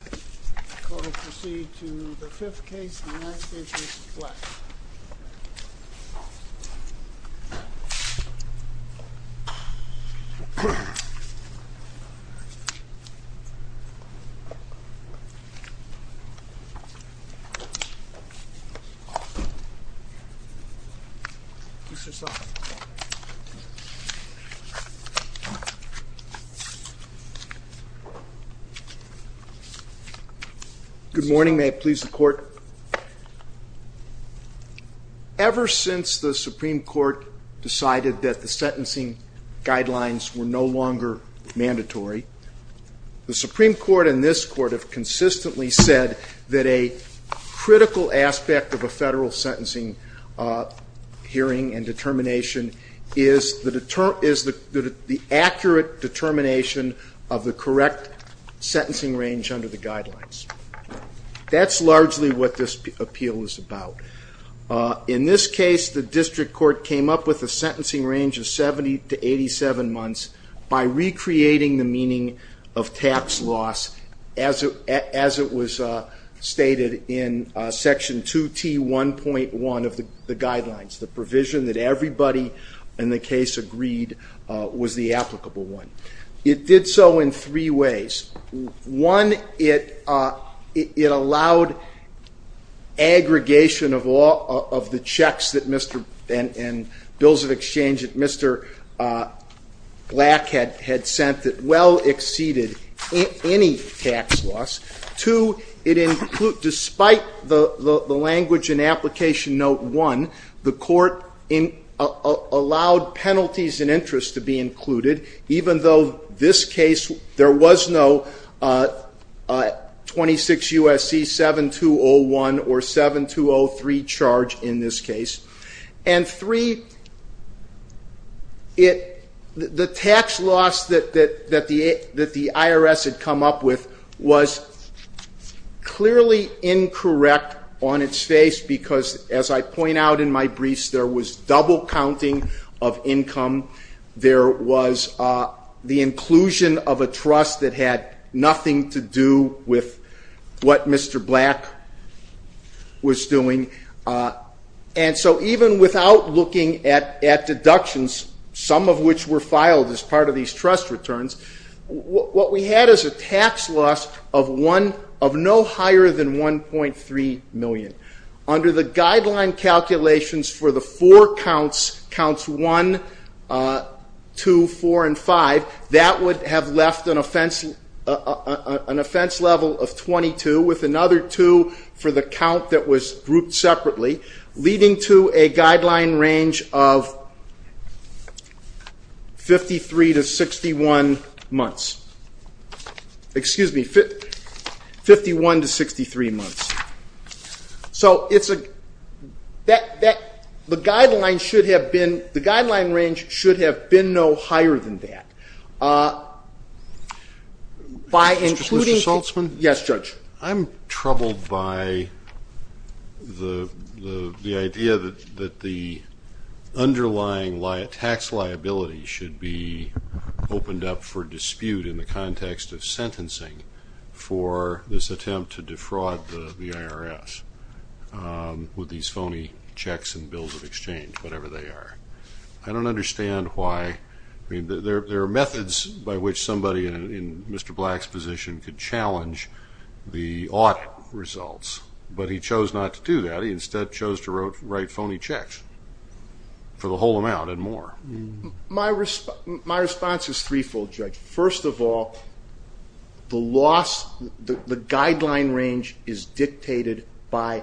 The court will proceed to the fifth case, the United States v. Rex Black. Good morning. May it please the court. Ever since the Supreme Court decided that the sentencing guidelines were no longer mandatory, the Supreme Court and this Court have consistently said that a critical aspect of a federal sentencing hearing and determination is the accurate determination of the correct sentencing range under the guidelines. That's largely what this appeal is about. In this case, the district court came up with a sentencing range of 70 to 87 months by recreating the meaning of tax loss as it was stated in Section 2T1.1 of the guidelines, the provision that everybody in the case agreed was the applicable one. It did so in three ways. One, it allowed aggregation of the checks and bills of exchange that Mr. Black had sent that well exceeded any tax loss. Two, despite the language in Application Note 1, the court allowed penalties and interest to be included, even though this case there was no 26 U.S.C. 7201 or 7203 charge in this case. And three, the tax loss that the IRS had come up with was clearly incorrect on its face because as I point out in my briefs, there was double counting of income. There was the inclusion of a trust that had nothing to do with what Mr. Black was doing. And so even without looking at deductions, some of which were filed as part of these trust returns, what we had is a tax loss of no higher than $1.3 million. Under the guideline calculations for the four counts, counts 1, 2, 4, and 5, that would have left an offense level of 22 with another 2 for the count that was grouped separately, leading to a guideline range of 51 to 63 months. So the guideline range should have been no higher than that. Mr. Saltzman? Yes, Judge. I'm troubled by the idea that the underlying tax liability should be opened up for dispute in the context of sentencing for this attempt to defraud the IRS with these phony checks and bills of exchange, whatever they are. I don't understand why. I mean, there are methods by which somebody in Mr. Black's position could challenge the audit results, but he chose not to do that. He instead chose to write phony checks for the whole amount and more. My response is threefold, Judge. First of all, the guideline range is dictated by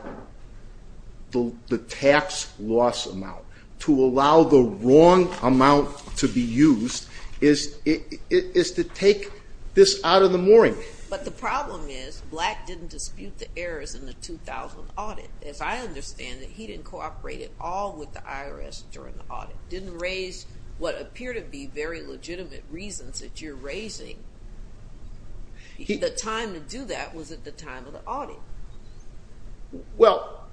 the tax loss amount. To allow the wrong amount to be used is to take this out of the mooring. But the problem is Black didn't dispute the errors in the 2000 audit. As I understand it, he didn't cooperate at all with the IRS during the audit, didn't raise what appear to be very legitimate reasons that you're raising. The time to do that was at the time of the audit. Well,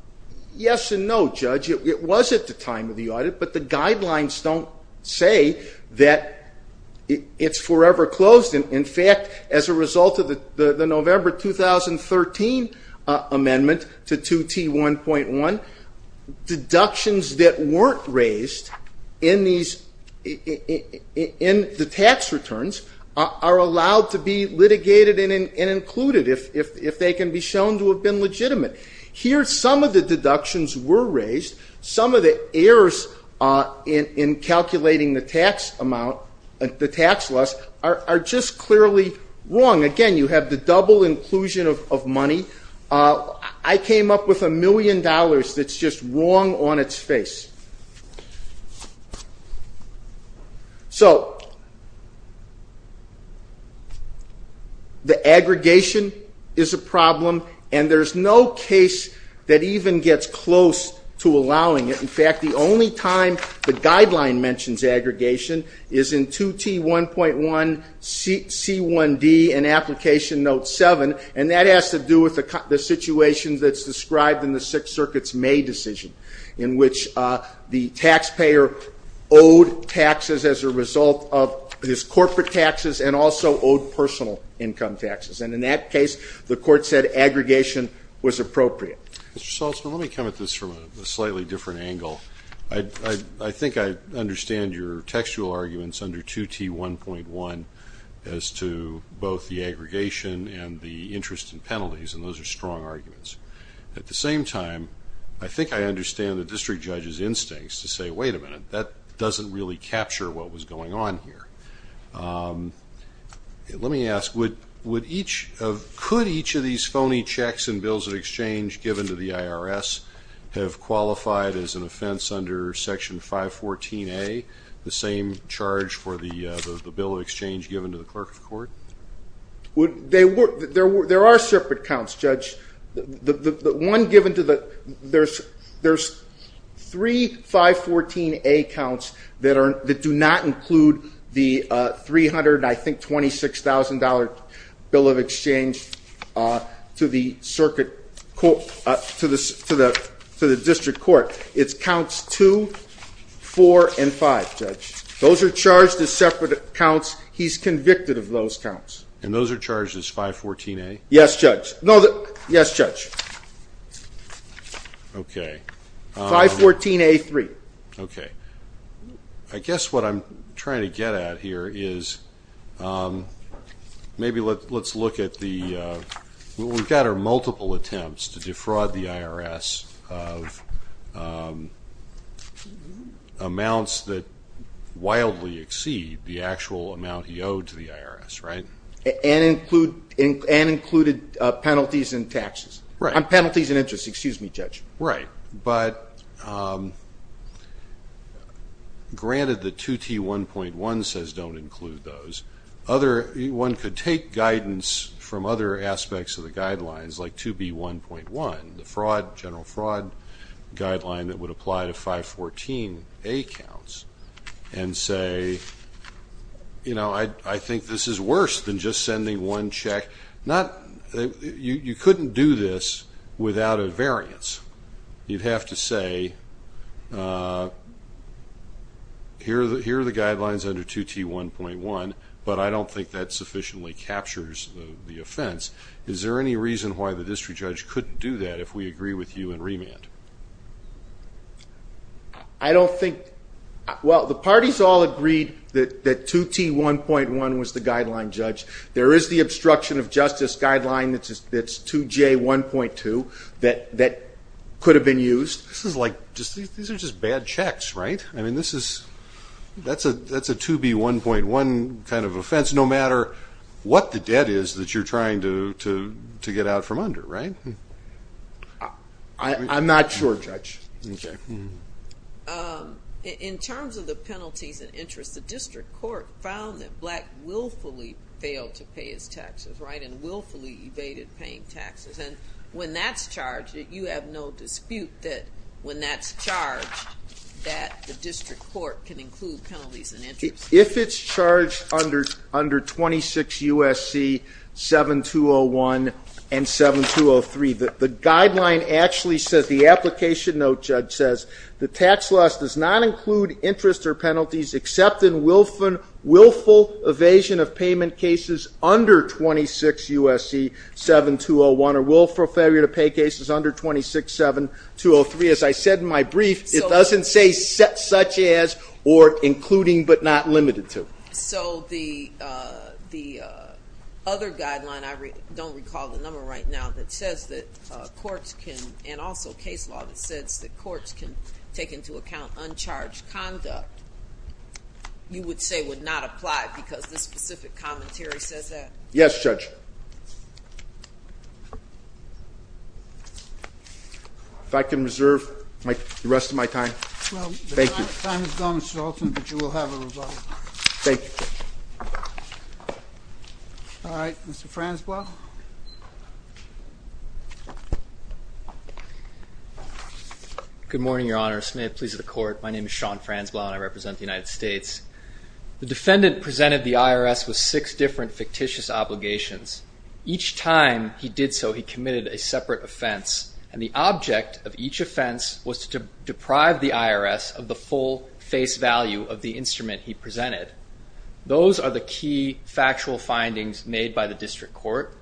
yes and no, Judge. It was at the time of the audit, but the guidelines don't say that it's forever closed. In fact, as a result of the November 2013 amendment to 2T1.1, deductions that weren't raised in the tax returns are allowed to be litigated and included if they can be shown to have been legitimate. Here, some of the deductions were raised. Some of the errors in calculating the tax loss are just clearly wrong. Again, you have the double inclusion of money. I came up with a million dollars that's just wrong on its face. The aggregation is a problem, and there's no case that even gets close to allowing it. In fact, the only time the guideline mentions aggregation is in 2T1.1C1D in Application Note 7, and that has to do with the situation that's described in the Sixth Circuit's May decision in which the taxpayer owed taxes as a result of his corporate taxes and also owed personal income taxes. And in that case, the court said aggregation was appropriate. Mr. Salzman, let me come at this from a slightly different angle. I think I understand your textual arguments under 2T1.1 as to both the aggregation and the interest and penalties, and those are strong arguments. At the same time, I think I understand the district judge's instincts to say, wait a minute, that doesn't really capture what was going on here. Let me ask, could each of these phony checks and bills of exchange given to the IRS have qualified as an offense under Section 514A, the same charge for the bill of exchange given to the clerk of court? There are separate counts, Judge. There's three 514A counts that do not include the $326,000 bill of exchange to the district court. It's counts 2, 4, and 5, Judge. Those are charged as separate counts. He's convicted of those counts. And those are charged as 514A? Yes, Judge. No, the – yes, Judge. Okay. 514A-3. Okay. I guess what I'm trying to get at here is maybe let's look at the – we've got our multiple attempts to defraud the IRS of amounts that wildly exceed the actual amount he owed to the IRS, right? And include – and included penalties and taxes. Right. Penalties and interest. Excuse me, Judge. Right. But granted the 2T1.1 says don't include those. Other – one could take guidance from other aspects of the guidelines, like 2B1.1, the fraud – general fraud guideline that would apply to 514A counts, and say, you know, I think this is worse than just sending one check. Not – you couldn't do this without a variance. You'd have to say here are the guidelines under 2T1.1, but I don't think that sufficiently captures the offense. Is there any reason why the district judge couldn't do that if we agree with you in remand? I don't think – well, the parties all agreed that 2T1.1 was the guideline, Judge. There is the obstruction of justice guideline that's 2J1.2 that could have been used. This is like – these are just bad checks, right? I mean, this is – that's a 2B1.1 kind of offense, no matter what the debt is that you're trying to get out from under, right? I'm not sure, Judge. Okay. In terms of the penalties and interest, the district court found that Black willfully failed to pay his taxes, right, and willfully evaded paying taxes. And when that's charged, you have no dispute that when that's charged, that the district court can include penalties and interest. If it's charged under 26 U.S.C. 7201 and 7203, the guideline actually says – the application note, Judge, says the tax loss does not include interest or penalties except in willful evasion of payment cases under 26 U.S.C. 7201 or willful failure to pay cases under 26 7203. As I said in my brief, it doesn't say such as or including but not limited to. So the other guideline – I don't recall the number right now – that says that courts can – and also case law that says that courts can take into account uncharged conduct, you would say would not apply because this specific commentary says that? Yes, Judge. If I can reserve the rest of my time. Thank you. Well, your time is done, Mr. Alton, but you will have a rebuttal. Thank you. All right. Mr. Franzblau. Good morning, Your Honor. May it please the Court. My name is Sean Franzblau, and I represent the United States. The defendant presented the IRS with six different fictitious obligations. Each time he did so, he committed a separate offense, and the object of each offense was to deprive the IRS of the full face value of the instrument he presented. Those are the key factual findings made by the district court.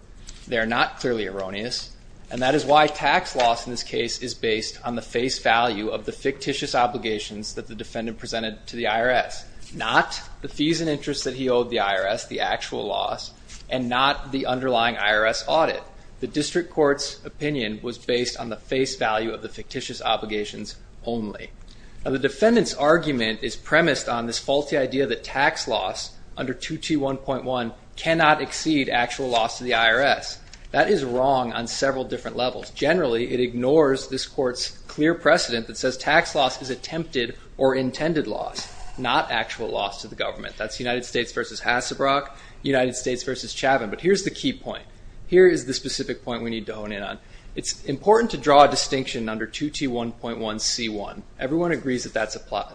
They are not clearly erroneous, and that is why tax loss in this case is based on the face value of the fictitious obligations that the defendant presented to the IRS, not the fees and interest that he owed the IRS, the actual loss, and not the underlying IRS audit. The district court's opinion was based on the face value of the fictitious obligations only. Now, the defendant's argument is premised on this faulty idea that tax loss under 221.1 cannot exceed actual loss to the IRS. That is wrong on several different levels. Generally, it ignores this court's clear precedent that says tax loss is attempted or intended loss, not actual loss to the government. That's United States v. Hassebrock, United States v. Chavin. But here's the key point. Here is the specific point we need to hone in on. It's important to draw a distinction under 221.1c1. Everyone agrees that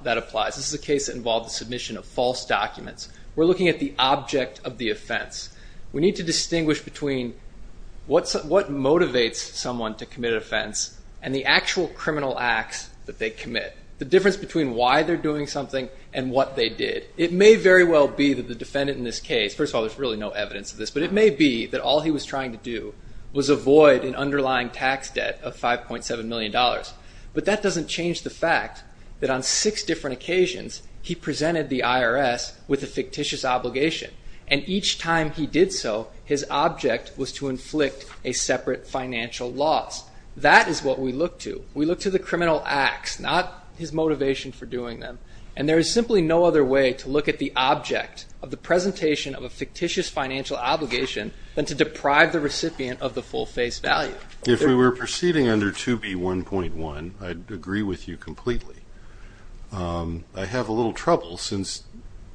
that applies. This is a case that involved the submission of false documents. We're looking at the object of the offense. We need to distinguish between what motivates someone to commit an offense and the actual criminal acts that they commit, the difference between why they're doing something and what they did. It may very well be that the defendant in this case, first of all, there's really no evidence of this, but it may be that all he was trying to do was avoid an underlying tax debt of $5.7 million. But that doesn't change the fact that on six different occasions, he presented the IRS with a fictitious obligation. And each time he did so, his object was to inflict a separate financial loss. That is what we look to. We look to the criminal acts, not his motivation for doing them. And there is simply no other way to look at the object of the presentation of a fictitious financial obligation than to deprive the recipient of the full face value. If we were proceeding under 2B1.1, I'd agree with you completely. I have a little trouble,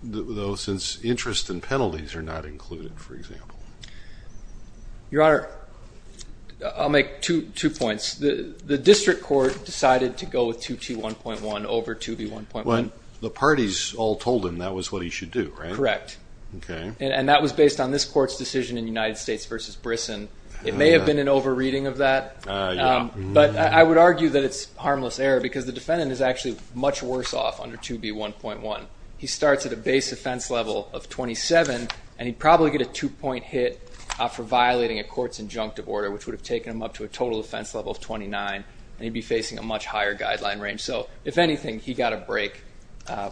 though, since interest and penalties are not included, for example. Your Honor, I'll make two points. The district court decided to go with 2T1.1 over 2B1.1. The parties all told him that was what he should do, right? Correct. And that was based on this court's decision in United States v. Brisson. It may have been an over-reading of that. But I would argue that it's harmless error because the defendant is actually much worse off under 2B1.1. He starts at a base offense level of 27, and he'd probably get a two-point hit for violating a court's injunctive order, which would have taken him up to a total offense level of 29, and he'd be facing a much higher guideline range. So, if anything, he got a break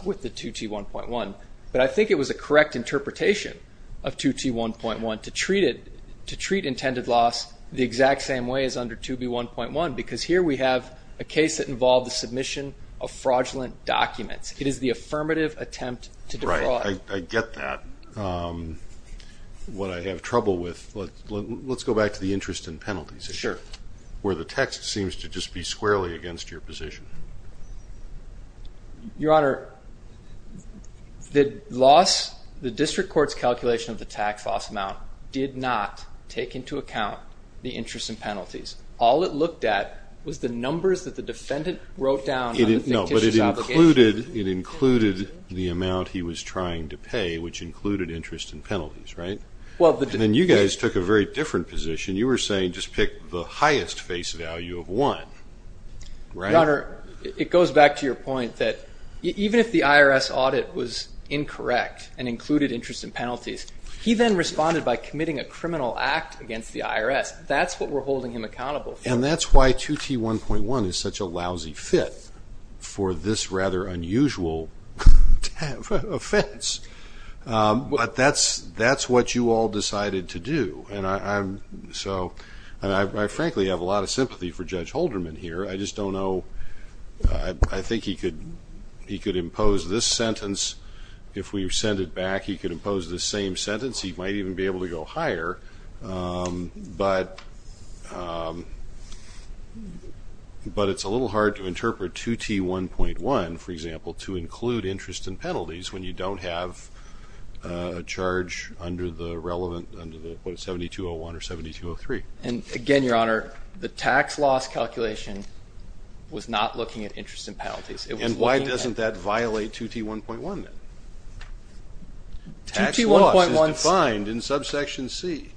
with the 2T1.1. But I think it was a correct interpretation of 2T1.1 to treat intended loss the exact same way as under 2B1.1 because here we have a case that involved the submission of fraudulent documents. It is the affirmative attempt to defraud. Right. I get that. What I have trouble with, let's go back to the interest and penalties. Sure. Where the text seems to just be squarely against your position. Your Honor, the district court's calculation of the tax loss amount did not take into account the interest and penalties. All it looked at was the numbers that the defendant wrote down on the fictitious obligation. It included the amount he was trying to pay, which included interest and penalties, right? And then you guys took a very different position. You were saying just pick the highest face value of one, right? Your Honor, it goes back to your point that even if the IRS audit was incorrect and included interest and penalties, he then responded by committing a criminal act against the IRS. That's what we're holding him accountable for. And that's why 2T1.1 is such a lousy fit for this rather unusual offense. But that's what you all decided to do. And I frankly have a lot of sympathy for Judge Holderman here. I just don't know. I think he could impose this sentence. If we send it back, he could impose this same sentence. He might even be able to go higher. But it's a little hard to interpret 2T1.1, for example, to include interest and penalties when you don't have a charge under the relevant 72.01 or 72.03. And again, Your Honor, the tax loss calculation was not looking at interest and penalties. And why doesn't that violate 2T1.1 then? 2T1.1 is defined in Subsection C.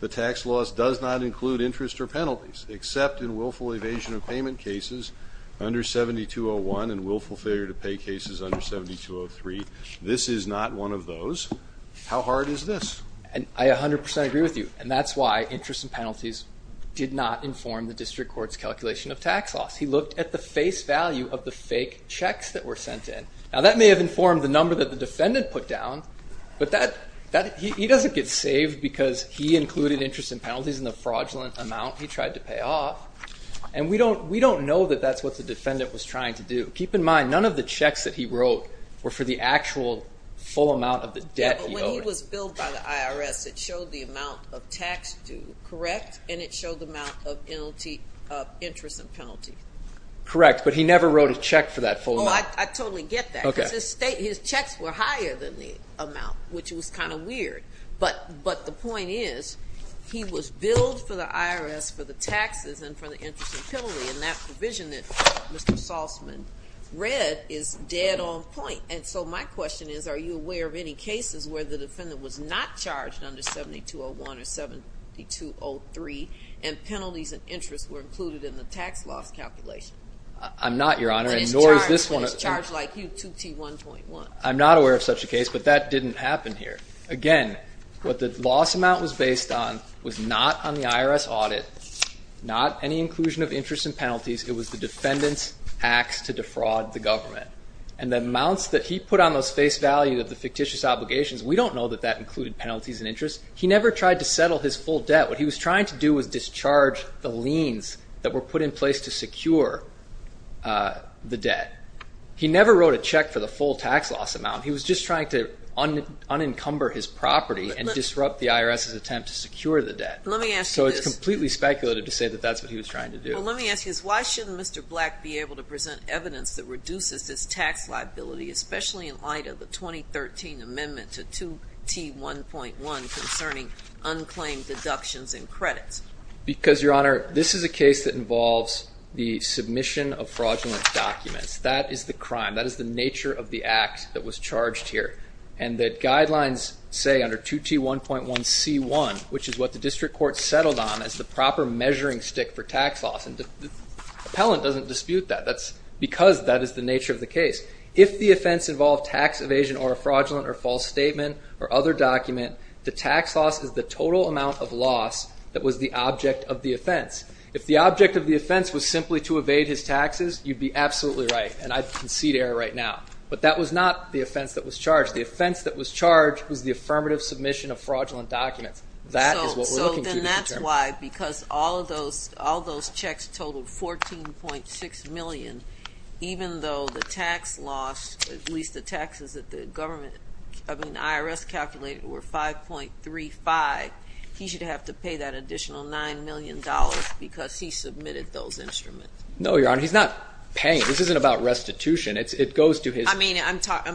The tax loss does not include interest or penalties except in willful evasion of payment cases under 72.01 and willful failure to pay cases under 72.03. This is not one of those. How hard is this? I 100% agree with you. And that's why interest and penalties did not inform the district court's calculation of tax loss. He looked at the face value of the fake checks that were sent in. Now, that may have informed the number that the defendant put down, but he doesn't get saved because he included interest and penalties in the fraudulent amount he tried to pay off. And we don't know that that's what the defendant was trying to do. Keep in mind, none of the checks that he wrote were for the actual full amount of the debt he owed. Yeah, but when he was billed by the IRS, it showed the amount of tax due, correct? And it showed the amount of interest and penalty. Correct, but he never wrote a check for that full amount. No, I totally get that because his checks were higher than the amount, which was kind of weird. But the point is, he was billed for the IRS for the taxes and for the interest and penalty, and that provision that Mr. Saltzman read is dead on point. And so my question is, are you aware of any cases where the defendant was not charged under 72.01 or 72.03 and penalties and interest were included in the tax loss calculation? I'm not, Your Honor, and nor is this one. But it's charged like U2T1.1. I'm not aware of such a case, but that didn't happen here. Again, what the loss amount was based on was not on the IRS audit, not any inclusion of interest and penalties. It was the defendant's acts to defraud the government. And the amounts that he put on those face value of the fictitious obligations, we don't know that that included penalties and interest. He never tried to settle his full debt. What he was trying to do was discharge the liens that were put in place to secure the debt. He never wrote a check for the full tax loss amount. He was just trying to unencumber his property and disrupt the IRS's attempt to secure the debt. So it's completely speculative to say that that's what he was trying to do. Well, let me ask you this. Why shouldn't Mr. Black be able to present evidence that reduces this tax liability, especially in light of the 2013 amendment to 2T1.1 concerning unclaimed deductions and credits? Because, Your Honor, this is a case that involves the submission of fraudulent documents. That is the crime. That is the nature of the act that was charged here. And the guidelines say under 2T1.1c1, which is what the district court settled on, is the proper measuring stick for tax loss. And the appellant doesn't dispute that. That's because that is the nature of the case. If the offense involved tax evasion or a fraudulent or false statement or other document, the tax loss is the total amount of loss that was the object of the offense. If the object of the offense was simply to evade his taxes, you'd be absolutely right, and I'd concede error right now. But that was not the offense that was charged. The offense that was charged was the affirmative submission of fraudulent documents. That is what we're looking to determine. Why? Because all those checks totaled $14.6 million, even though the tax loss, at least the taxes that the IRS calculated were $5.35, he should have to pay that additional $9 million because he submitted those instruments. No, Your Honor. He's not paying. This isn't about restitution. I'm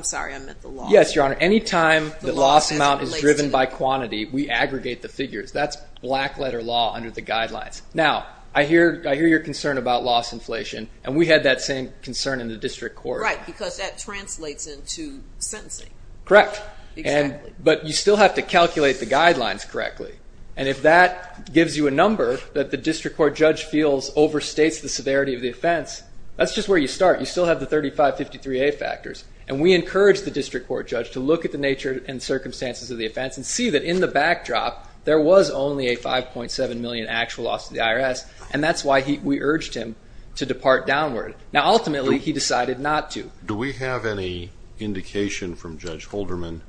sorry, I meant the loss. Yes, Your Honor. Any time the loss amount is driven by quantity, we aggregate the figures. That's black letter law under the guidelines. Now, I hear your concern about loss inflation, and we had that same concern in the district court. Right, because that translates into sentencing. Correct. Exactly. But you still have to calculate the guidelines correctly, and if that gives you a number that the district court judge feels overstates the severity of the offense, that's just where you start. You still have the 3553A factors, and we encourage the district court judge to look at the nature and circumstances of the offense and see that in the backdrop there was only a $5.7 million actual loss to the IRS, and that's why we urged him to depart downward. Now, ultimately, he decided not to. Do we have any indication from Judge Holderman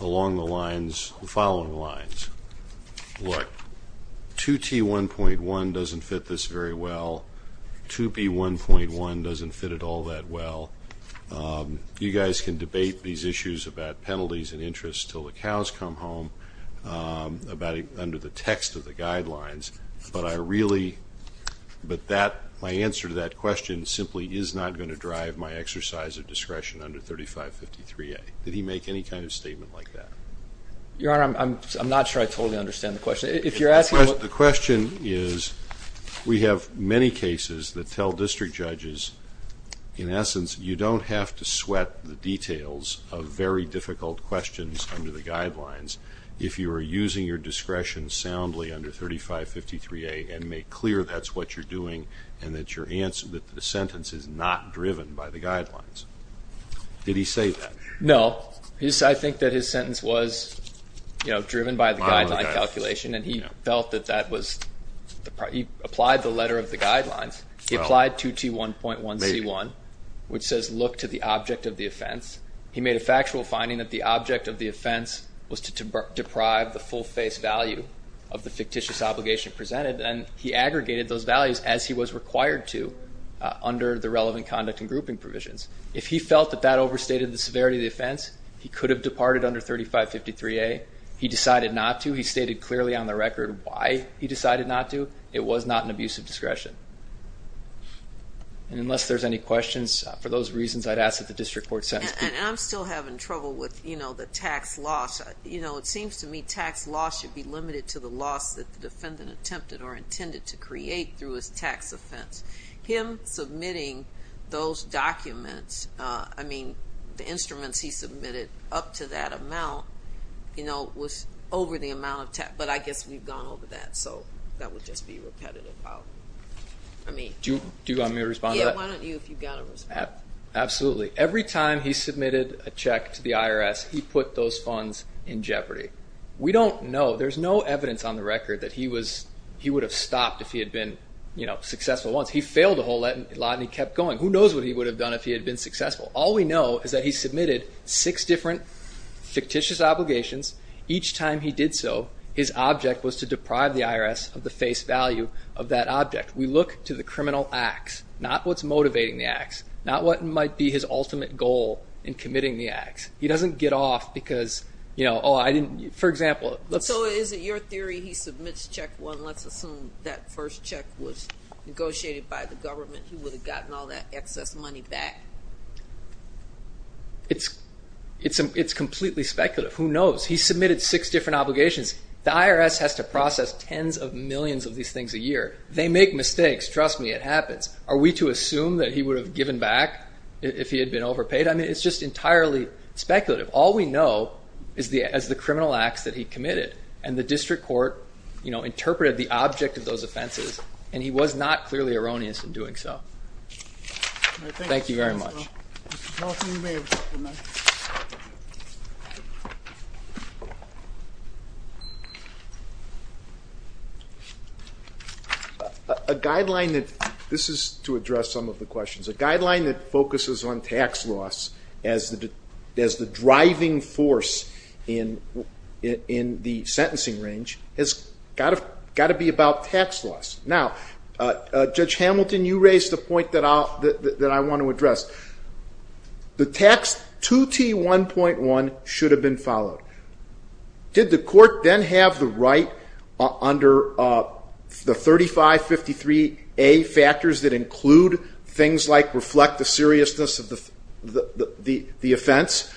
along the following lines? Look, 2T1.1 doesn't fit this very well. 2B1.1 doesn't fit it all that well. You guys can debate these issues about penalties and interest until the cows come home under the text of the guidelines, but my answer to that question simply is not going to drive my exercise of discretion under 3553A. Did he make any kind of statement like that? Your Honor, I'm not sure I totally understand the question. The question is we have many cases that tell district judges, in essence, you don't have to sweat the details of very difficult questions under the guidelines if you are using your discretion soundly under 3553A and make clear that's what you're doing and that the sentence is not driven by the guidelines. Did he say that? No. Well, I think that his sentence was driven by the guideline calculation, and he felt that that was the problem. He applied the letter of the guidelines. He applied 2T1.1C1, which says look to the object of the offense. He made a factual finding that the object of the offense was to deprive the full face value of the fictitious obligation presented, and he aggregated those values as he was required to under the relevant conduct and grouping provisions. If he felt that that overstated the severity of the offense, he could have departed under 3553A. He decided not to. He stated clearly on the record why he decided not to. It was not an abuse of discretion. And unless there's any questions, for those reasons, I'd ask that the district court sentence be... And I'm still having trouble with, you know, the tax loss. You know, it seems to me tax loss should be limited to the loss that the defendant attempted or intended to create through his tax offense. Him submitting those documents, I mean, the instruments he submitted up to that amount, you know, was over the amount of tax. But I guess we've gone over that, so that would just be repetitive. Do you want me to respond to that? Yeah, why don't you if you've got to respond. Absolutely. Every time he submitted a check to the IRS, he put those funds in jeopardy. We don't know. There's no evidence on the record that he would have stopped if he had been, you know, successful once. He failed a whole lot and he kept going. Who knows what he would have done if he had been successful? All we know is that he submitted six different fictitious obligations. Each time he did so, his object was to deprive the IRS of the face value of that object. We look to the criminal acts, not what's motivating the acts, not what might be his ultimate goal in committing the acts. He doesn't get off because, you know, oh, I didn't, for example... So is it your theory he submits check one, let's assume that first check was negotiated by the government, he would have gotten all that excess money back? It's completely speculative. Who knows? He submitted six different obligations. The IRS has to process tens of millions of these things a year. They make mistakes. Trust me, it happens. Are we to assume that he would have given back if he had been overpaid? I mean, it's just entirely speculative. All we know is the criminal acts that he committed, and the district court interpreted the object of those offenses, and he was not clearly erroneous in doing so. Thank you very much. A guideline that this is to address some of the questions. A guideline that focuses on tax loss as the driving force in the sentencing range has got to be about tax loss. Now, Judge Hamilton, you raised a point that I want to address. The tax 2T1.1 should have been followed. Did the court then have the right under the 3553A factors that include things like reflect the seriousness of the offense,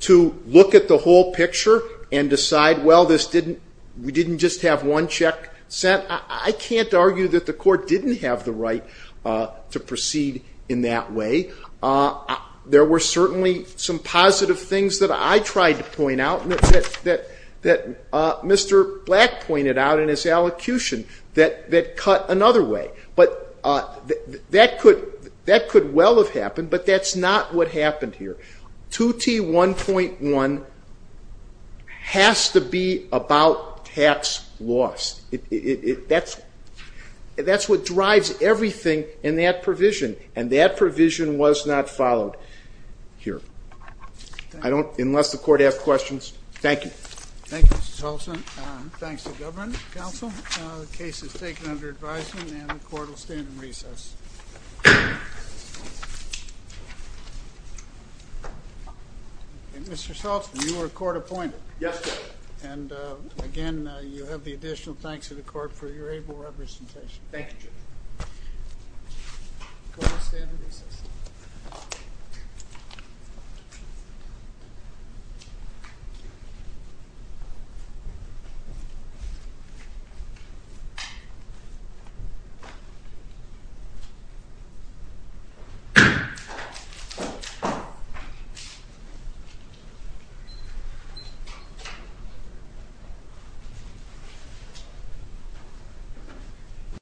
to look at the whole picture and decide, well, we didn't just have one check sent? I can't argue that the court didn't have the right to proceed in that way. There were certainly some positive things that I tried to point out, that Mr. Black pointed out in his elocution, that cut another way. But that could well have happened, but that's not what happened here. 2T1.1 has to be about tax loss. That's what drives everything in that provision, and that provision was not followed here. Unless the court has questions. Thank you. Thank you, Mr. Saltsman. Thanks to the government counsel. The case is taken under advisement and the court will stand in recess. Mr. Saltsman, you were court appointed. Yes, sir. And, again, you have the additional thanks of the court for your able representation. Thank you. Court is in recess.